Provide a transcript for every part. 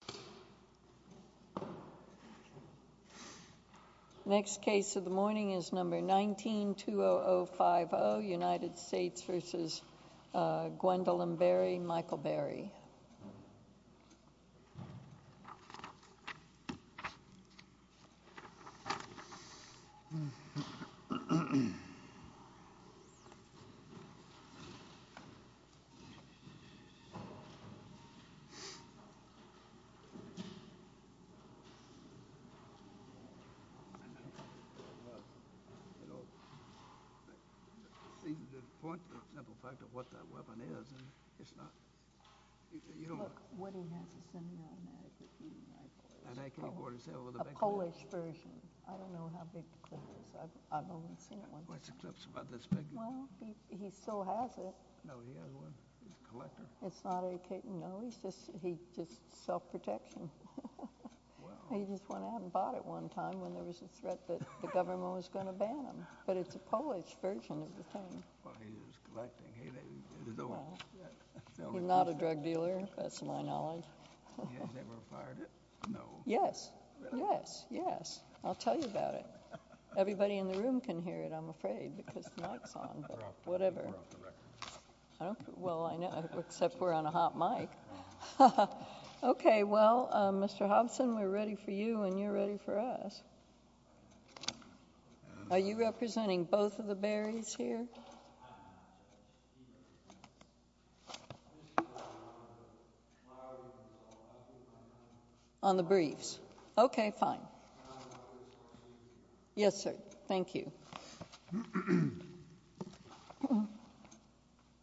Michael Berry The point, the simple fact of what that weapon is, it's not, you don't want to... A Polish version. I don't know how big the clip is. I've only seen one. Well, he still has it. No, he has one. He's a collector. It's not a... No, he's just self-protection. He just went out and bought it one time when there was a threat that the government was going to ban him. But it's a Polish version of the thing. Well, he was collecting. He's not a drug dealer, that's my knowledge. He has never fired it? No. Yes, yes, yes. I'll tell you about it. Everybody in the room can hear it, I'm afraid, because the mic's on, but whatever. We're off the record. Well, I know, except we're on a hot mic. Okay, well, Mr. Hobson, we're ready for you and you're ready for us. Are you representing both of the Berries here? On the briefs? Okay, fine. Yes, sir. Thank you. Good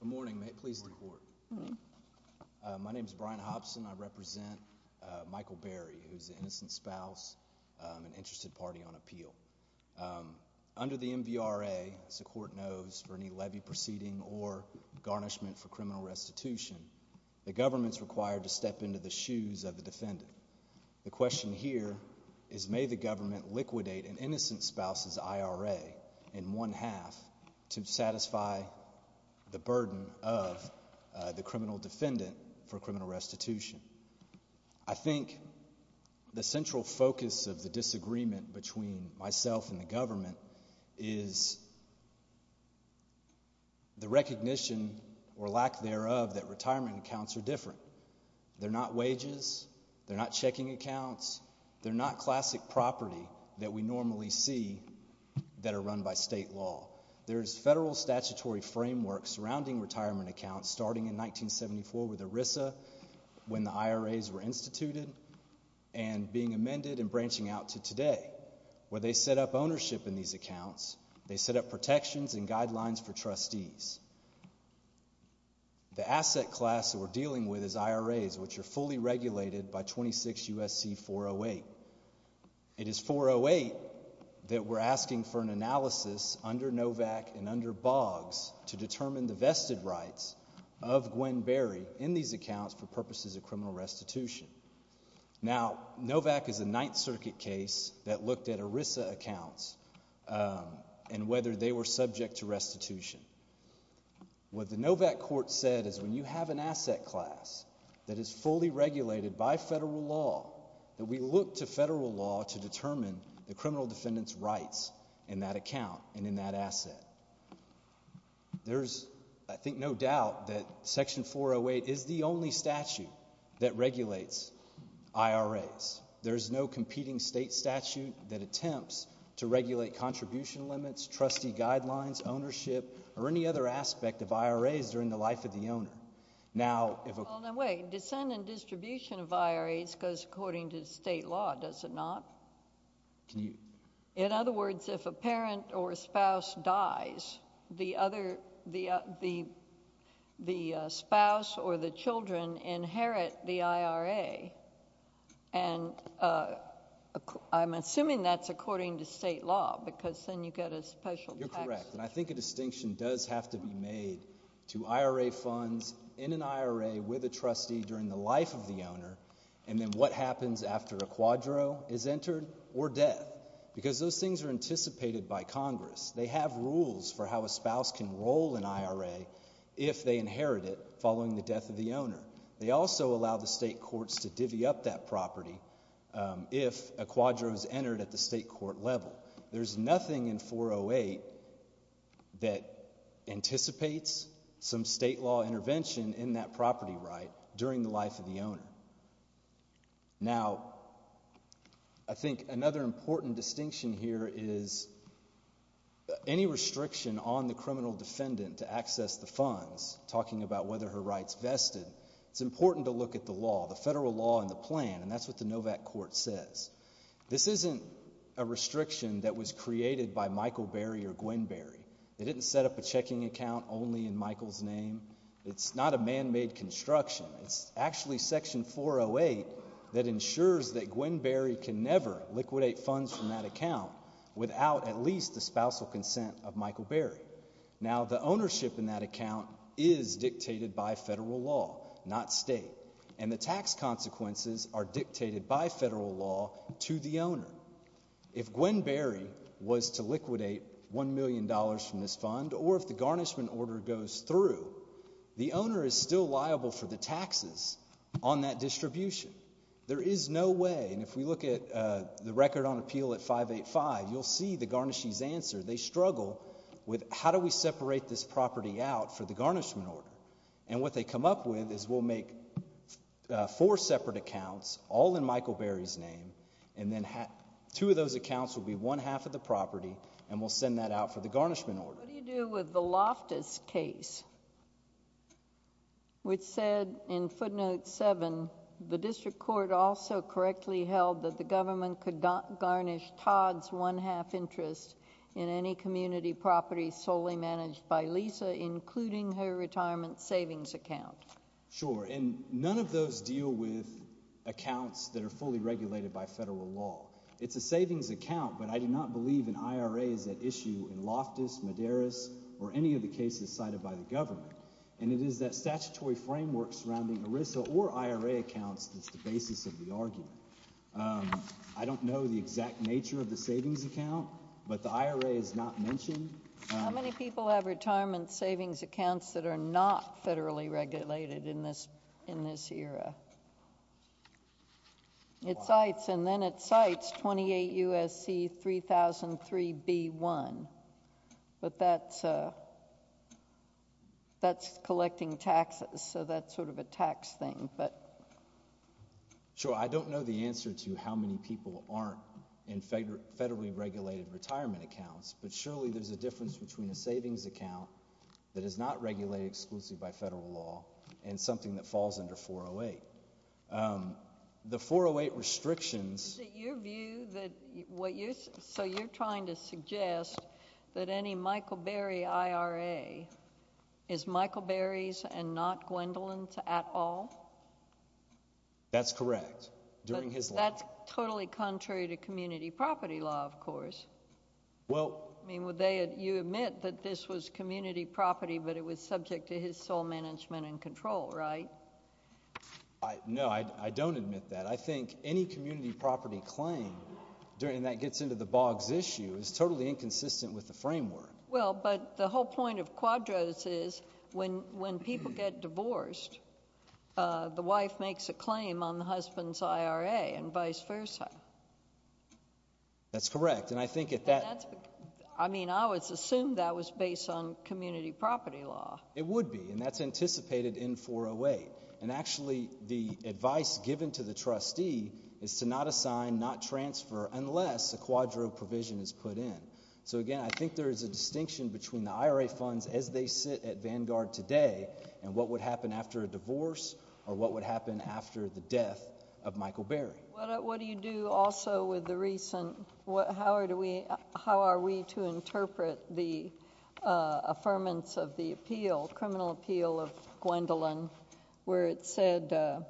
morning. Please report. My name is Brian Hobson. I represent Michael Berry, who is the innocent spouse and interested party on appeal. Under the MVRA, as the court knows, for any levy proceeding or garnishment for criminal restitution, the government's required to step into the shoes of the defendant. The question here is may the government liquidate an innocent spouse's IRA in one half to satisfy the burden of the criminal defendant for criminal restitution. I think the central focus of the disagreement between myself and the government is the recognition or lack thereof that retirement accounts are different. They're not wages. They're not checking accounts. They're not classic property that we normally see that are run by state law. There's federal statutory framework surrounding retirement accounts starting in 1974 with ERISA when the IRAs were instituted and being amended and branching out to today where they set up ownership in these accounts. They set up protections and guidelines for trustees. The asset class that we're dealing with is IRAs, which are fully regulated by 26 U.S.C. 408. It is 408 that we're asking for an analysis under NOVAC and under BOGS to determine the vested rights of Gwen Berry in these accounts for purposes of criminal restitution. Now, NOVAC is a Ninth Circuit case that looked at ERISA accounts and whether they were subject to restitution. What the NOVAC court said is when you have an asset class that is fully regulated by federal law, that we look to federal law to determine the criminal defendant's rights in that account and in that asset. There's, I think, no doubt that Section 408 is the only statute that regulates IRAs. There's no competing state statute that attempts to regulate contribution limits, trustee guidelines, ownership, or any other aspect of IRAs during the life of the owner. Now, if a— Well, now wait. Descent and distribution of IRAs goes according to state law, does it not? Can you— In other words, if a parent or a spouse dies, the spouse or the children inherit the IRA and I'm assuming that's according to state law because then you get a special tax— You're correct, and I think a distinction does have to be made to IRA funds in an IRA with a trustee during the life of the owner and then what happens after a quadro is entered or death because those things are anticipated by Congress. They have rules for how a spouse can roll an IRA if they inherit it following the death of the owner. They also allow the state courts to divvy up that property if a quadro is entered at the state court level. There's nothing in 408 that anticipates some state law intervention in that property right during the life of the owner. Now, I think another important distinction here is any restriction on the criminal defendant to access the funds, talking about whether her rights vested, it's important to look at the law, the federal law and the plan, and that's what the NOVAC Court says. This isn't a restriction that was created by Michael Berry or Gwen Berry. They didn't set up a checking account only in Michael's name. It's not a man-made construction. It's actually Section 408 that ensures that Gwen Berry can never liquidate funds from that account without at least the spousal consent of Michael Berry. Now, the ownership in that account is dictated by federal law, not state, and the tax consequences are dictated by federal law to the owner. If Gwen Berry was to liquidate $1 million from this fund or if the garnishment order goes through, the owner is still liable for the taxes on that distribution. There is no way, and if we look at the record on appeal at 585, you'll see the garnishees answer. They struggle with how do we separate this property out for the garnishment order, and what they come up with is we'll make four separate accounts, all in Michael Berry's name, and then two of those accounts will be one half of the property, and we'll send that out for the garnishment order. What do you do with the Loftus case, which said in footnote 7, the district court also correctly held that the government could garnish Todd's one-half interest in any community property solely managed by Lisa, including her retirement savings account. Sure, and none of those deal with accounts that are fully regulated by federal law. It's a savings account, but I do not believe an IRA is at issue in Loftus, Madaris, or any of the cases cited by the government, and it is that statutory framework surrounding ERISA or IRA accounts that's the basis of the argument. I don't know the exact nature of the savings account, but the IRA is not mentioned. How many people have retirement savings accounts that are not federally regulated in this era? It cites, and then it cites 28 U.S.C. 3003b1, but that's collecting taxes, so that's sort of a tax thing. Sure, I don't know the answer to how many people aren't in federally regulated retirement accounts, but surely there's a difference between a savings account that is not regulated exclusively by federal law and something that falls under 408. The 408 restrictions— Is it your view that what you're—so you're trying to suggest that any Michael Berry IRA is Michael Berry's and not Gwendolyn's at all? That's correct, during his life. You admit that this was community property, but it was subject to his sole management and control, right? No, I don't admit that. I think any community property claim, and that gets into the Boggs issue, is totally inconsistent with the framework. Well, but the whole point of Quadros is when people get divorced, the wife makes a claim on the husband's IRA and vice versa. That's correct, and I think if that— I mean, I would assume that was based on community property law. It would be, and that's anticipated in 408. And actually, the advice given to the trustee is to not assign, not transfer, unless a Quadro provision is put in. So again, I think there is a distinction between the IRA funds as they sit at Vanguard today and what would happen after a divorce or what would happen after the death of Michael Berry. What do you do also with the recent—how are we to interpret the affirmance of the appeal, criminal appeal of Gwendolyn, where it said the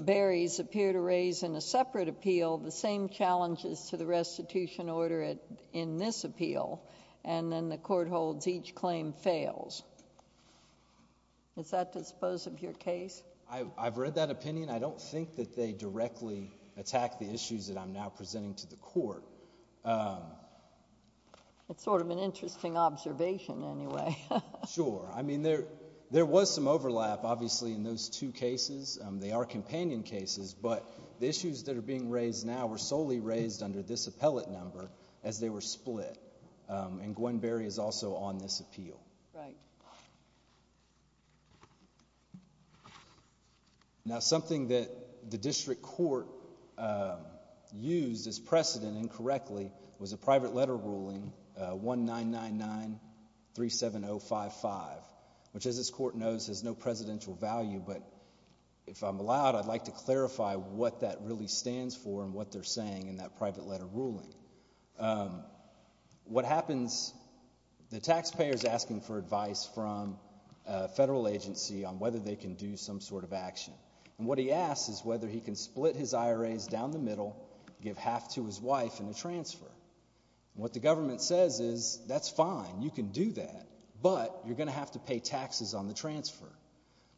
Berries appear to raise in a separate appeal the same challenges to the restitution order in this appeal, and then the court holds each claim fails. Is that the suppose of your case? I've read that opinion. I don't think that they directly attack the issues that I'm now presenting to the court. It's sort of an interesting observation anyway. Sure. I mean, there was some overlap, obviously, in those two cases. They are companion cases, but the issues that are being raised now were solely raised under this appellate number as they were split, and Gwen Berry is also on this appeal. Right. Now, something that the district court used as precedent incorrectly was a private letter ruling 199937055, which, as this court knows, has no presidential value, but if I'm allowed, I'd like to clarify what that really stands for and what they're saying in that private letter ruling. What happens, the taxpayer is asking for advice from a federal agency on whether they can do some sort of action, and what he asks is whether he can split his IRAs down the middle, give half to his wife, and a transfer. What the government says is, that's fine, you can do that, but you're going to have to pay taxes on the transfer.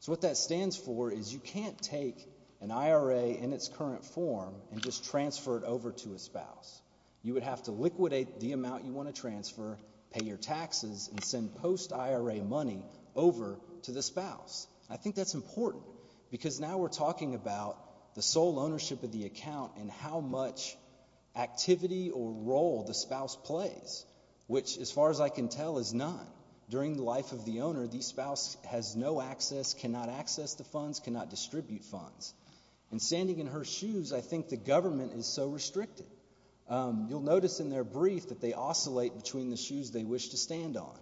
So what that stands for is you can't take an IRA in its current form and just transfer it over to a spouse. You would have to liquidate the amount you want to transfer, pay your taxes, and send post-IRA money over to the spouse. I think that's important because now we're talking about the sole ownership of the account and how much activity or role the spouse plays, which, as far as I can tell, is none. During the life of the owner, the spouse has no access, cannot access the funds, cannot distribute funds. And standing in her shoes, I think the government is so restricted. You'll notice in their brief that they oscillate between the shoes they wish to stand on.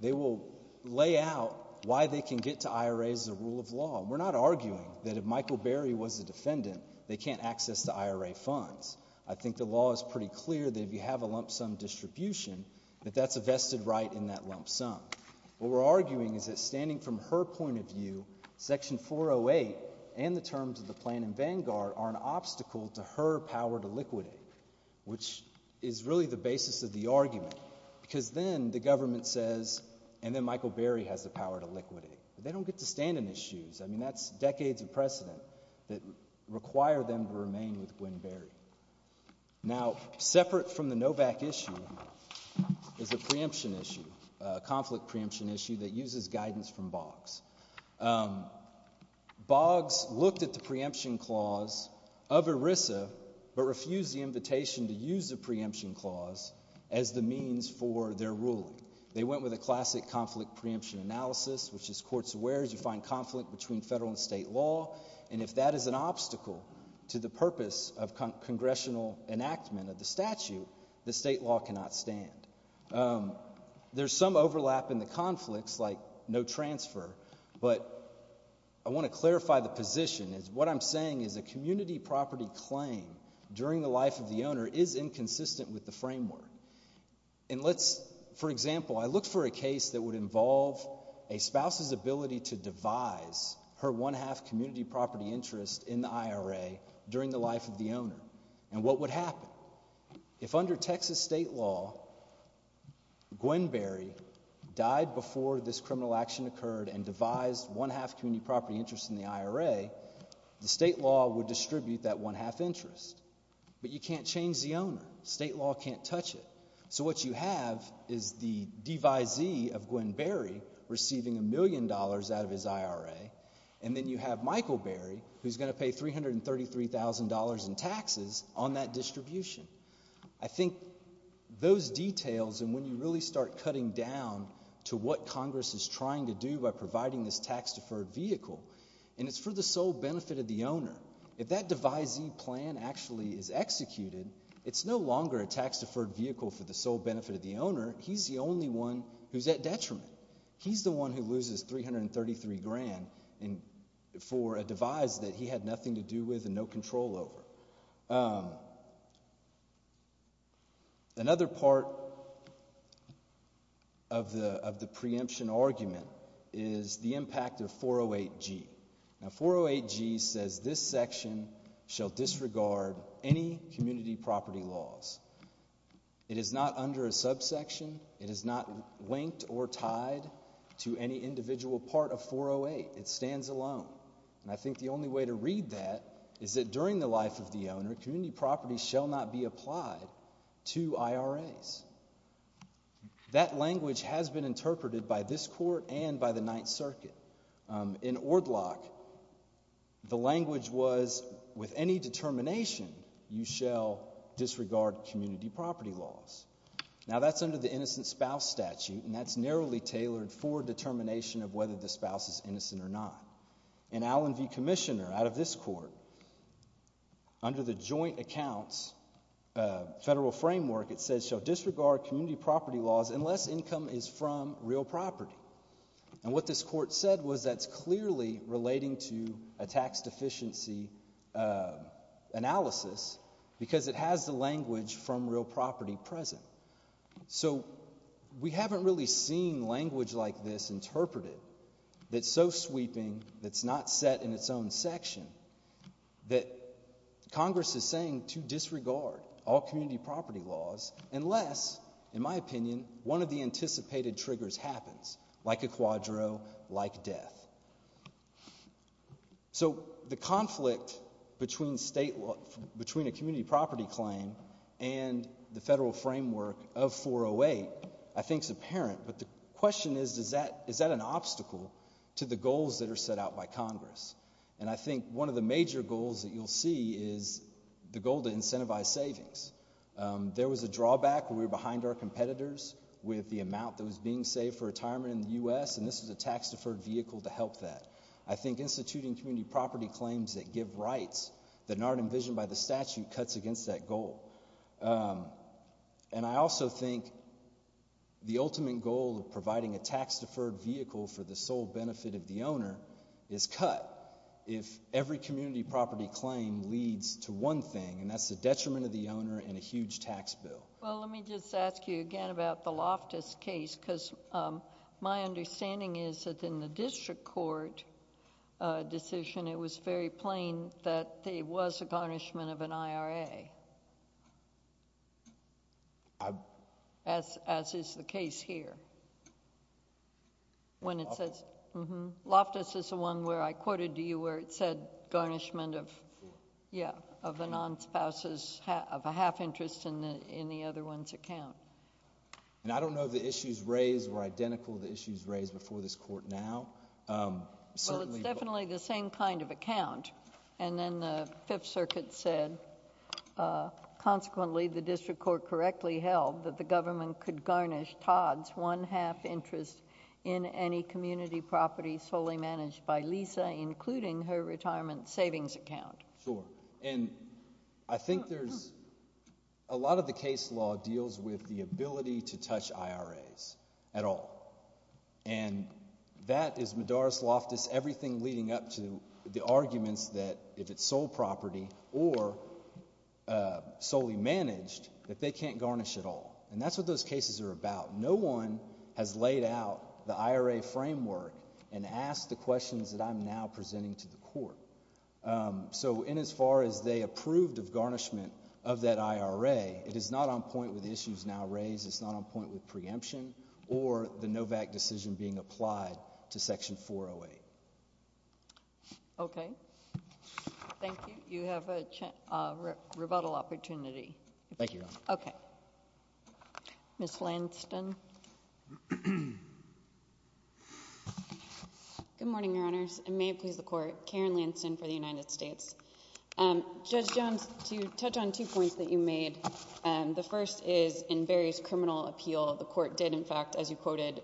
They will lay out why they can get to IRAs as a rule of law. We're not arguing that if Michael Berry was a defendant, they can't access the IRA funds. I think the law is pretty clear that if you have a lump sum distribution, that that's a vested right in that lump sum. What we're arguing is that, standing from her point of view, Section 408 and the terms of the plan in Vanguard are an obstacle to her power to liquidate, which is really the basis of the argument. Because then the government says, and then Michael Berry has the power to liquidate. They don't get to stand in his shoes. I mean, that's decades of precedent that require them to remain with Gwen Berry. Now, separate from the Novak issue is a preemption issue, a conflict preemption issue, that uses guidance from Boggs. Boggs looked at the preemption clause of ERISA but refused the invitation to use the preemption clause as the means for their ruling. They went with a classic conflict preemption analysis, which is courts aware as you find conflict between federal and state law. And if that is an obstacle to the purpose of congressional enactment of the statute, the state law cannot stand. There's some overlap in the conflicts, like no transfer, but I want to clarify the position. What I'm saying is a community property claim during the life of the owner is inconsistent with the framework. And let's, for example, I look for a case that would involve a spouse's ability to devise her one-half community property interest in the IRA during the life of the owner. And what would happen? If under Texas state law Gwen Berry died before this criminal action occurred and devised one-half community property interest in the IRA, the state law would distribute that one-half interest. State law can't touch it. So what you have is the devisee of Gwen Berry receiving a million dollars out of his IRA, and then you have Michael Berry, who's going to pay $333,000 in taxes on that distribution. I think those details and when you really start cutting down to what Congress is trying to do by providing this tax-deferred vehicle, and it's for the sole benefit of the owner. If that devisee plan actually is executed, it's no longer a tax-deferred vehicle for the sole benefit of the owner. He's the only one who's at detriment. He's the one who loses $333,000 for a devise that he had nothing to do with and no control over. Another part of the preemption argument is the impact of 408G. Now 408G says this section shall disregard any community property laws. It is not under a subsection. It is not linked or tied to any individual part of 408. It stands alone. And I think the only way to read that is that during the life of the owner, community property shall not be applied to IRAs. That language has been interpreted by this court and by the Ninth Circuit. In Ordlock, the language was with any determination you shall disregard community property laws. Now that's under the innocent spouse statute, and that's narrowly tailored for determination of whether the spouse is innocent or not. In Allen v. Commissioner, out of this court, under the joint accounts federal framework, it says shall disregard community property laws unless income is from real property. And what this court said was that's clearly relating to a tax deficiency analysis because it has the language from real property present. So we haven't really seen language like this interpreted that's so sweeping, that's not set in its own section, that Congress is saying to disregard all community property laws unless, in my opinion, one of the anticipated triggers happens, like a quadro, like death. So the conflict between a community property claim and the federal framework of 408 I think is apparent, but the question is, is that an obstacle to the goals that are set out by Congress? And I think one of the major goals that you'll see is the goal to incentivize savings. There was a drawback where we were behind our competitors with the amount that was being saved for retirement in the U.S., and this is a tax-deferred vehicle to help that. I think instituting community property claims that give rights that aren't envisioned by the statute cuts against that goal. And I also think the ultimate goal of providing a tax-deferred vehicle for the sole benefit of the owner is cut if every community property claim leads to one thing, and that's the detriment of the owner and a huge tax bill. Well, let me just ask you again about the Loftus case, because my understanding is that in the district court decision it was very plain that there was a garnishment of an IRA, as is the case here. Loftus is the one where I quoted to you where it said garnishment of the non-spouses of a half interest in the other one's account. And I don't know if the issues raised were identical to the issues raised before this court now. Well, it's definitely the same kind of account, and then the Fifth Circuit said, consequently, the district court correctly held that the government could garnish Todd's one-half interest in any community property solely managed by Lisa, including her retirement savings account. Sure. And I think there's – a lot of the case law deals with the ability to touch IRAs at all, and that is Medaris Loftus, everything leading up to the arguments that if it's sole property or solely managed that they can't garnish at all. And that's what those cases are about. No one has laid out the IRA framework and asked the questions that I'm now presenting to the court. So in as far as they approved of garnishment of that IRA, it is not on point with the issues now raised. It's not on point with preemption or the Novak decision being applied to Section 408. Okay. Thank you. You have a rebuttal opportunity. Thank you, Your Honor. Okay. Ms. Lansdon. Good morning, Your Honors. It may please the Court. Karen Lansdon for the United States. Judge Jones, to touch on two points that you made. The first is in Barry's criminal appeal, the Court did, in fact, as you quoted,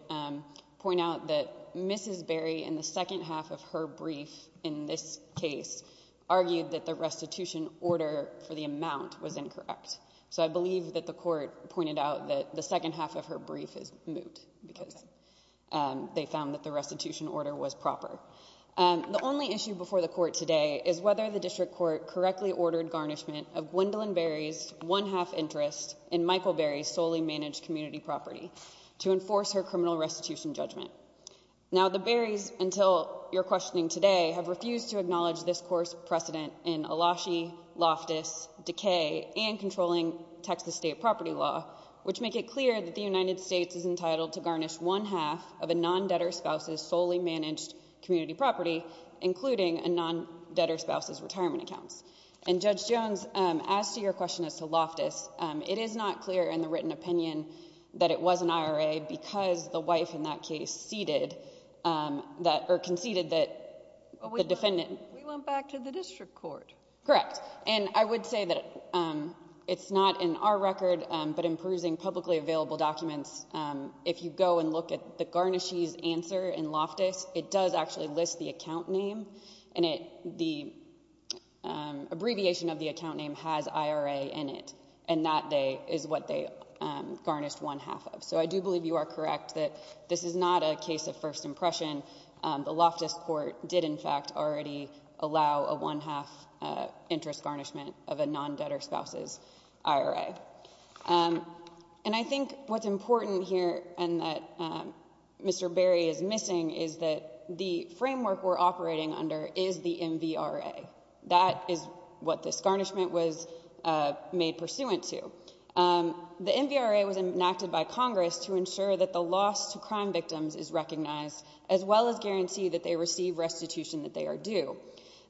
point out that Mrs. Barry in the second half of her brief in this case argued that the restitution order for the amount was incorrect. So I believe that the Court pointed out that the second half of her brief is moot because they found that the restitution order was proper. The only issue before the Court today is whether the District Court correctly ordered garnishment of Gwendolyn Barry's one-half interest in Michael Barry's solely managed community property to enforce her criminal restitution judgment. Now, the Barrys, until your questioning today, have refused to acknowledge this Court's precedent in Eloshi, Loftus, Decay, and controlling Texas state property law, which make it clear that the United States is entitled to garnish one-half of a non-debtor spouse's solely managed community property, including a non-debtor spouse's retirement accounts. And, Judge Jones, as to your question as to Loftus, it is not clear in the written opinion that it was an IRA because the wife in that case conceded that the defendant We went back to the District Court. Correct. And I would say that it's not in our record, but in perusing publicly available documents, if you go and look at the garnishee's answer in Loftus, it does actually list the account name, and the abbreviation of the account name has IRA in it, and that is what they garnished one-half of. So I do believe you are correct that this is not a case of first impression. The Loftus Court did, in fact, already allow a one-half interest garnishment of a non-debtor spouse's IRA. And I think what's important here and that Mr. Barry is missing is that the framework we're operating under is the MVRA. That is what this garnishment was made pursuant to. The MVRA was enacted by Congress to ensure that the loss to crime victims is recognized, as well as guarantee that they receive restitution that they are due.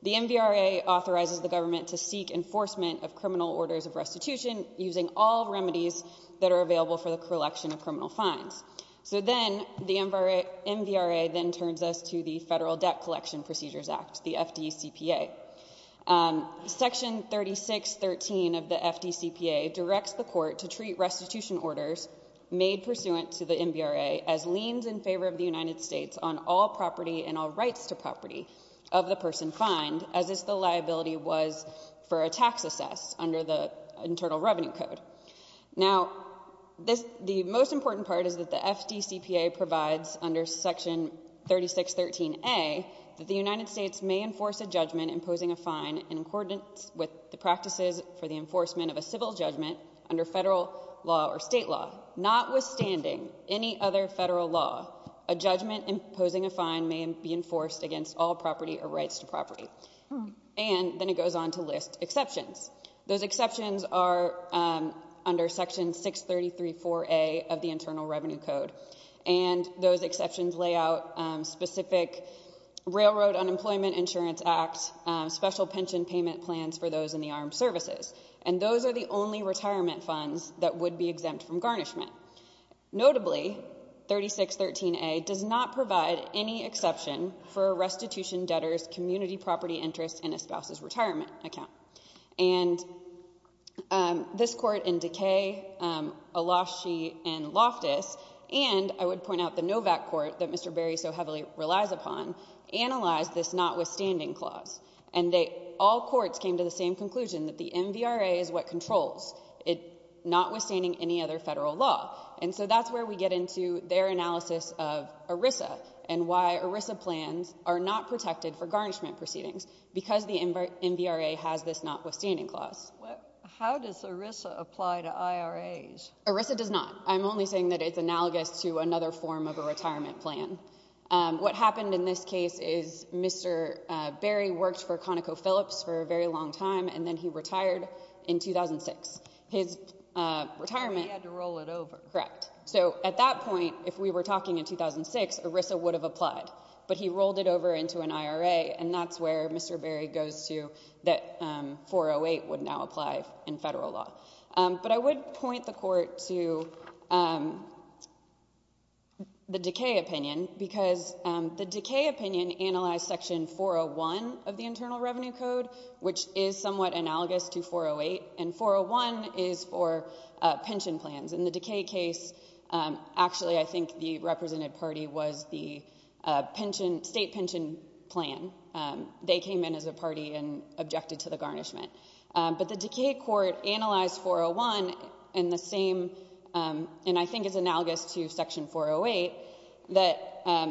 The MVRA authorizes the government to seek enforcement of criminal orders of restitution using all remedies that are available for the collection of criminal fines. So then the MVRA then turns us to the Federal Debt Collection Procedures Act, the FDCPA. Section 3613 of the FDCPA directs the court to treat restitution orders made pursuant to the MVRA as liens in favor of the United States on all property and all rights to property of the person fined, as if the liability was for a tax assess under the Internal Revenue Code. Now, the most important part is that the FDCPA provides under Section 3613A that the United States may enforce a judgment imposing a fine in accordance with the practices for the enforcement of a civil judgment under federal law or state law. Notwithstanding any other federal law, a judgment imposing a fine may be enforced against all property or rights to property. And then it goes on to list exceptions. Those exceptions are under Section 6334A of the Internal Revenue Code, and those exceptions lay out specific Railroad Unemployment Insurance Act special pension payment plans for those in the armed services. And those are the only retirement funds that would be exempt from garnishment. Notably, 3613A does not provide any exception for a restitution debtor's community property interest in a spouse's retirement account. And this Court in Dekay, Eloshi, and Loftus, and I would point out the Novak Court that Mr. Berry so heavily relies upon, analyzed this notwithstanding clause. And all courts came to the same conclusion that the MVRA is what controls it, notwithstanding any other federal law. And so that's where we get into their analysis of ERISA and why ERISA plans are not protected for garnishment proceedings, because the MVRA has this notwithstanding clause. How does ERISA apply to IRAs? ERISA does not. I'm only saying that it's analogous to another form of a retirement plan. What happened in this case is Mr. Berry worked for ConocoPhillips for a very long time, and then he retired in 2006. He had to roll it over. Correct. So at that point, if we were talking in 2006, ERISA would have applied. But he rolled it over into an IRA, and that's where Mr. Berry goes to that 408 would now apply in federal law. But I would point the Court to the Dekay opinion, because the Dekay opinion analyzed Section 401 of the Internal Revenue Code, which is somewhat analogous to 408, and 401 is for pension plans. In the Dekay case, actually I think the represented party was the state pension plan. They came in as a party and objected to the garnishment. But the Dekay court analyzed 401 in the same, and I think it's analogous to Section 408, that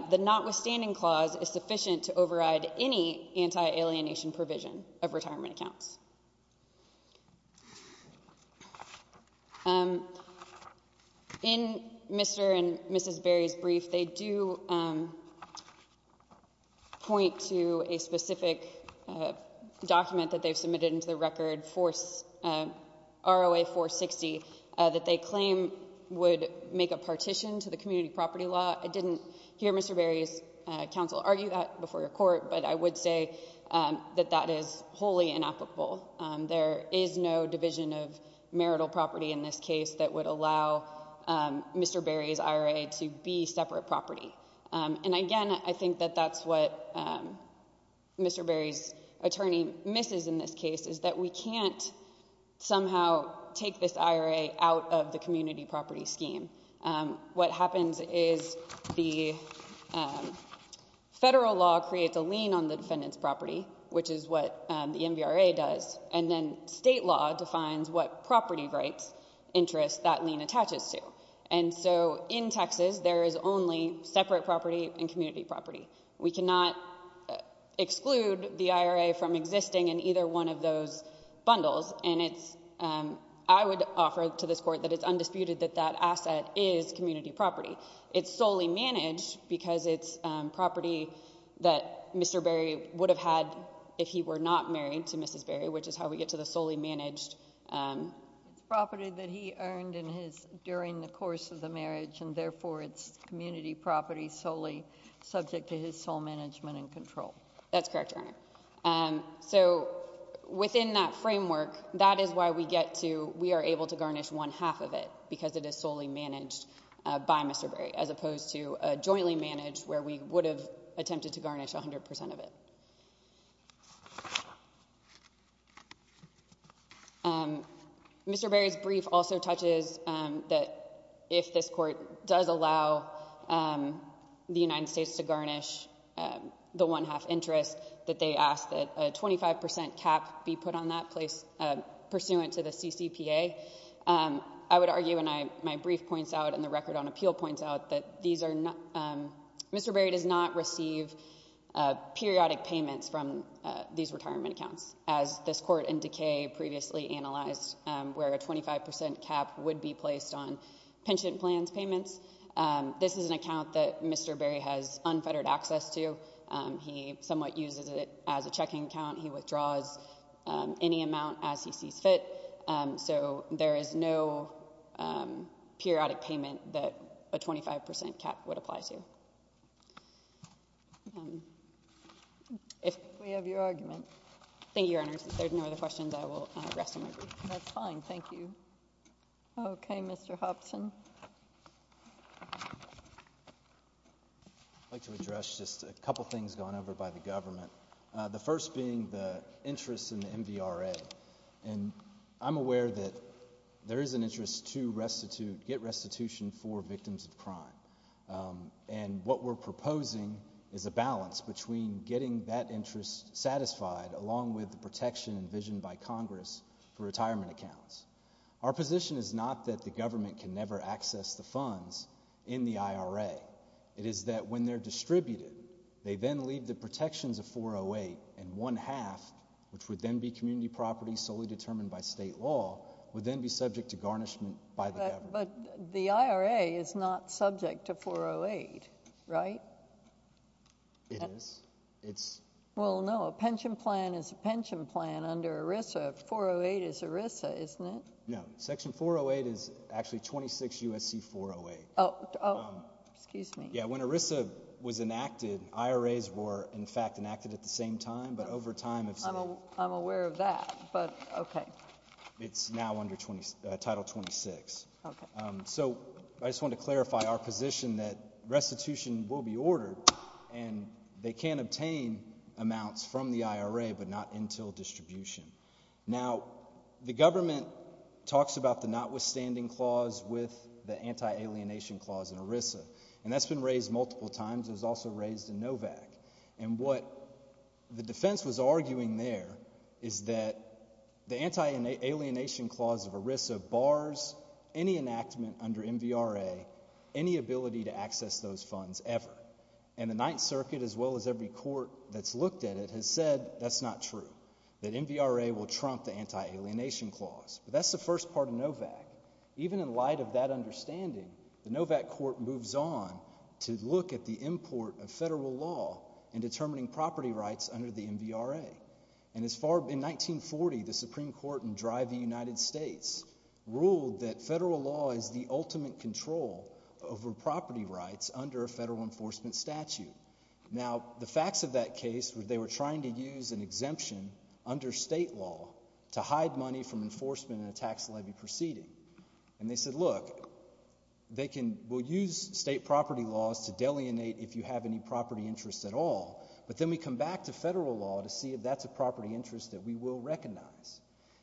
the notwithstanding clause is sufficient to override any anti-alienation provision of retirement accounts. In Mr. and Mrs. Berry's brief, they do point to a specific document that they've submitted into the record, ROA 460, that they claim would make a partition to the community property law. I didn't hear Mr. Berry's counsel argue that before your court, but I would say that that is wholly inapplicable. There is no division of marital property in this case that would allow Mr. Berry's IRA to be separate property. And again, I think that that's what Mr. Berry's attorney misses in this case, is that we can't somehow take this IRA out of the community property scheme. What happens is the federal law creates a lien on the defendant's property, which is what the MVRA does, and then state law defines what property rights interest that lien attaches to. And so in Texas, there is only separate property and community property. We cannot exclude the IRA from existing in either one of those bundles, and I would offer to this Court that it's undisputed that that asset is community property. It's solely managed because it's property that Mr. Berry would have had if he were not married to Mrs. Berry, which is how we get to the solely managed property that he earned during the course of the marriage, and therefore it's community property solely subject to his sole management and control. That's correct, Your Honor. So within that framework, that is why we are able to garnish one half of it, because it is solely managed by Mr. Berry as opposed to jointly managed where we would have attempted to garnish 100% of it. Mr. Berry's brief also touches that if this Court does allow the United States to garnish the one half interest, that they ask that a 25% cap be put on that place pursuant to the CCPA. I would argue, and my brief points out and the record on appeal points out, that Mr. Berry does not receive periodic payments from these retirement accounts, as this Court in Decay previously analyzed where a 25% cap would be placed on pension plans payments. This is an account that Mr. Berry has unfettered access to. He somewhat uses it as a checking account. He withdraws any amount as he sees fit. So there is no periodic payment that a 25% cap would apply to. If we have your argument. Thank you, Your Honor. If there are no other questions, I will rest on my brief. That's fine. Thank you. Okay. Mr. Hobson. I'd like to address just a couple things gone over by the government, the first being the interest in the MVRA. And I'm aware that there is an interest to get restitution for victims of crime. And what we're proposing is a balance between getting that interest satisfied along with the protection envisioned by Congress for retirement accounts. Our position is not that the government can never access the funds in the IRA. It is that when they're distributed, they then leave the protections of 408 and one-half, which would then be community property solely determined by state law, would then be subject to garnishment by the government. But the IRA is not subject to 408, right? It is. Well, no, a pension plan is a pension plan under ERISA. 408 is ERISA, isn't it? No. Restitution 408 is actually 26 U.S.C. 408. Oh, excuse me. Yeah, when ERISA was enacted, IRAs were, in fact, enacted at the same time. But over time, it's been. I'm aware of that, but okay. It's now under Title 26. Okay. So I just wanted to clarify our position that restitution will be ordered, and they can obtain amounts from the IRA but not until distribution. Now, the government talks about the notwithstanding clause with the anti-alienation clause in ERISA, and that's been raised multiple times. It was also raised in NOVAC. And what the defense was arguing there is that the anti-alienation clause of ERISA bars any enactment under MVRA, any ability to access those funds ever. And the Ninth Circuit, as well as every court that's looked at it, has said that's not true, that MVRA will trump the anti-alienation clause. But that's the first part of NOVAC. Even in light of that understanding, the NOVAC court moves on to look at the import of federal law in determining property rights under the MVRA. And in 1940, the Supreme Court in Drive v. United States ruled that federal law is the ultimate control over property rights under a federal enforcement statute. Now, the facts of that case were they were trying to use an exemption under state law to hide money from enforcement in a tax levy proceeding. And they said, look, we'll use state property laws to delineate if you have any property interests at all, but then we come back to federal law to see if that's a property interest that we will recognize.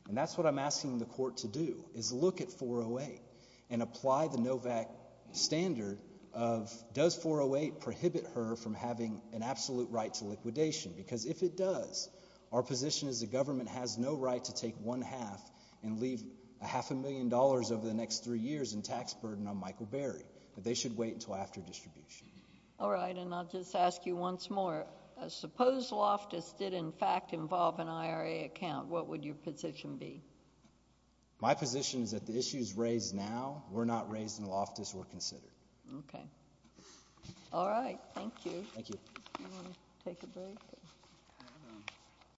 And that's what I'm asking the court to do, is look at 408 and apply the NOVAC standard of does 408 prohibit her from having an absolute right to liquidation? Because if it does, our position as a government has no right to take one half and leave half a million dollars over the next three years in tax burden on Michael Berry. They should wait until after distribution. All right, and I'll just ask you once more. Suppose Loftus did in fact involve an IRA account, what would your position be? My position is that the issues raised now were not raised in Loftus or considered. Okay. All right. Thank you. Thank you.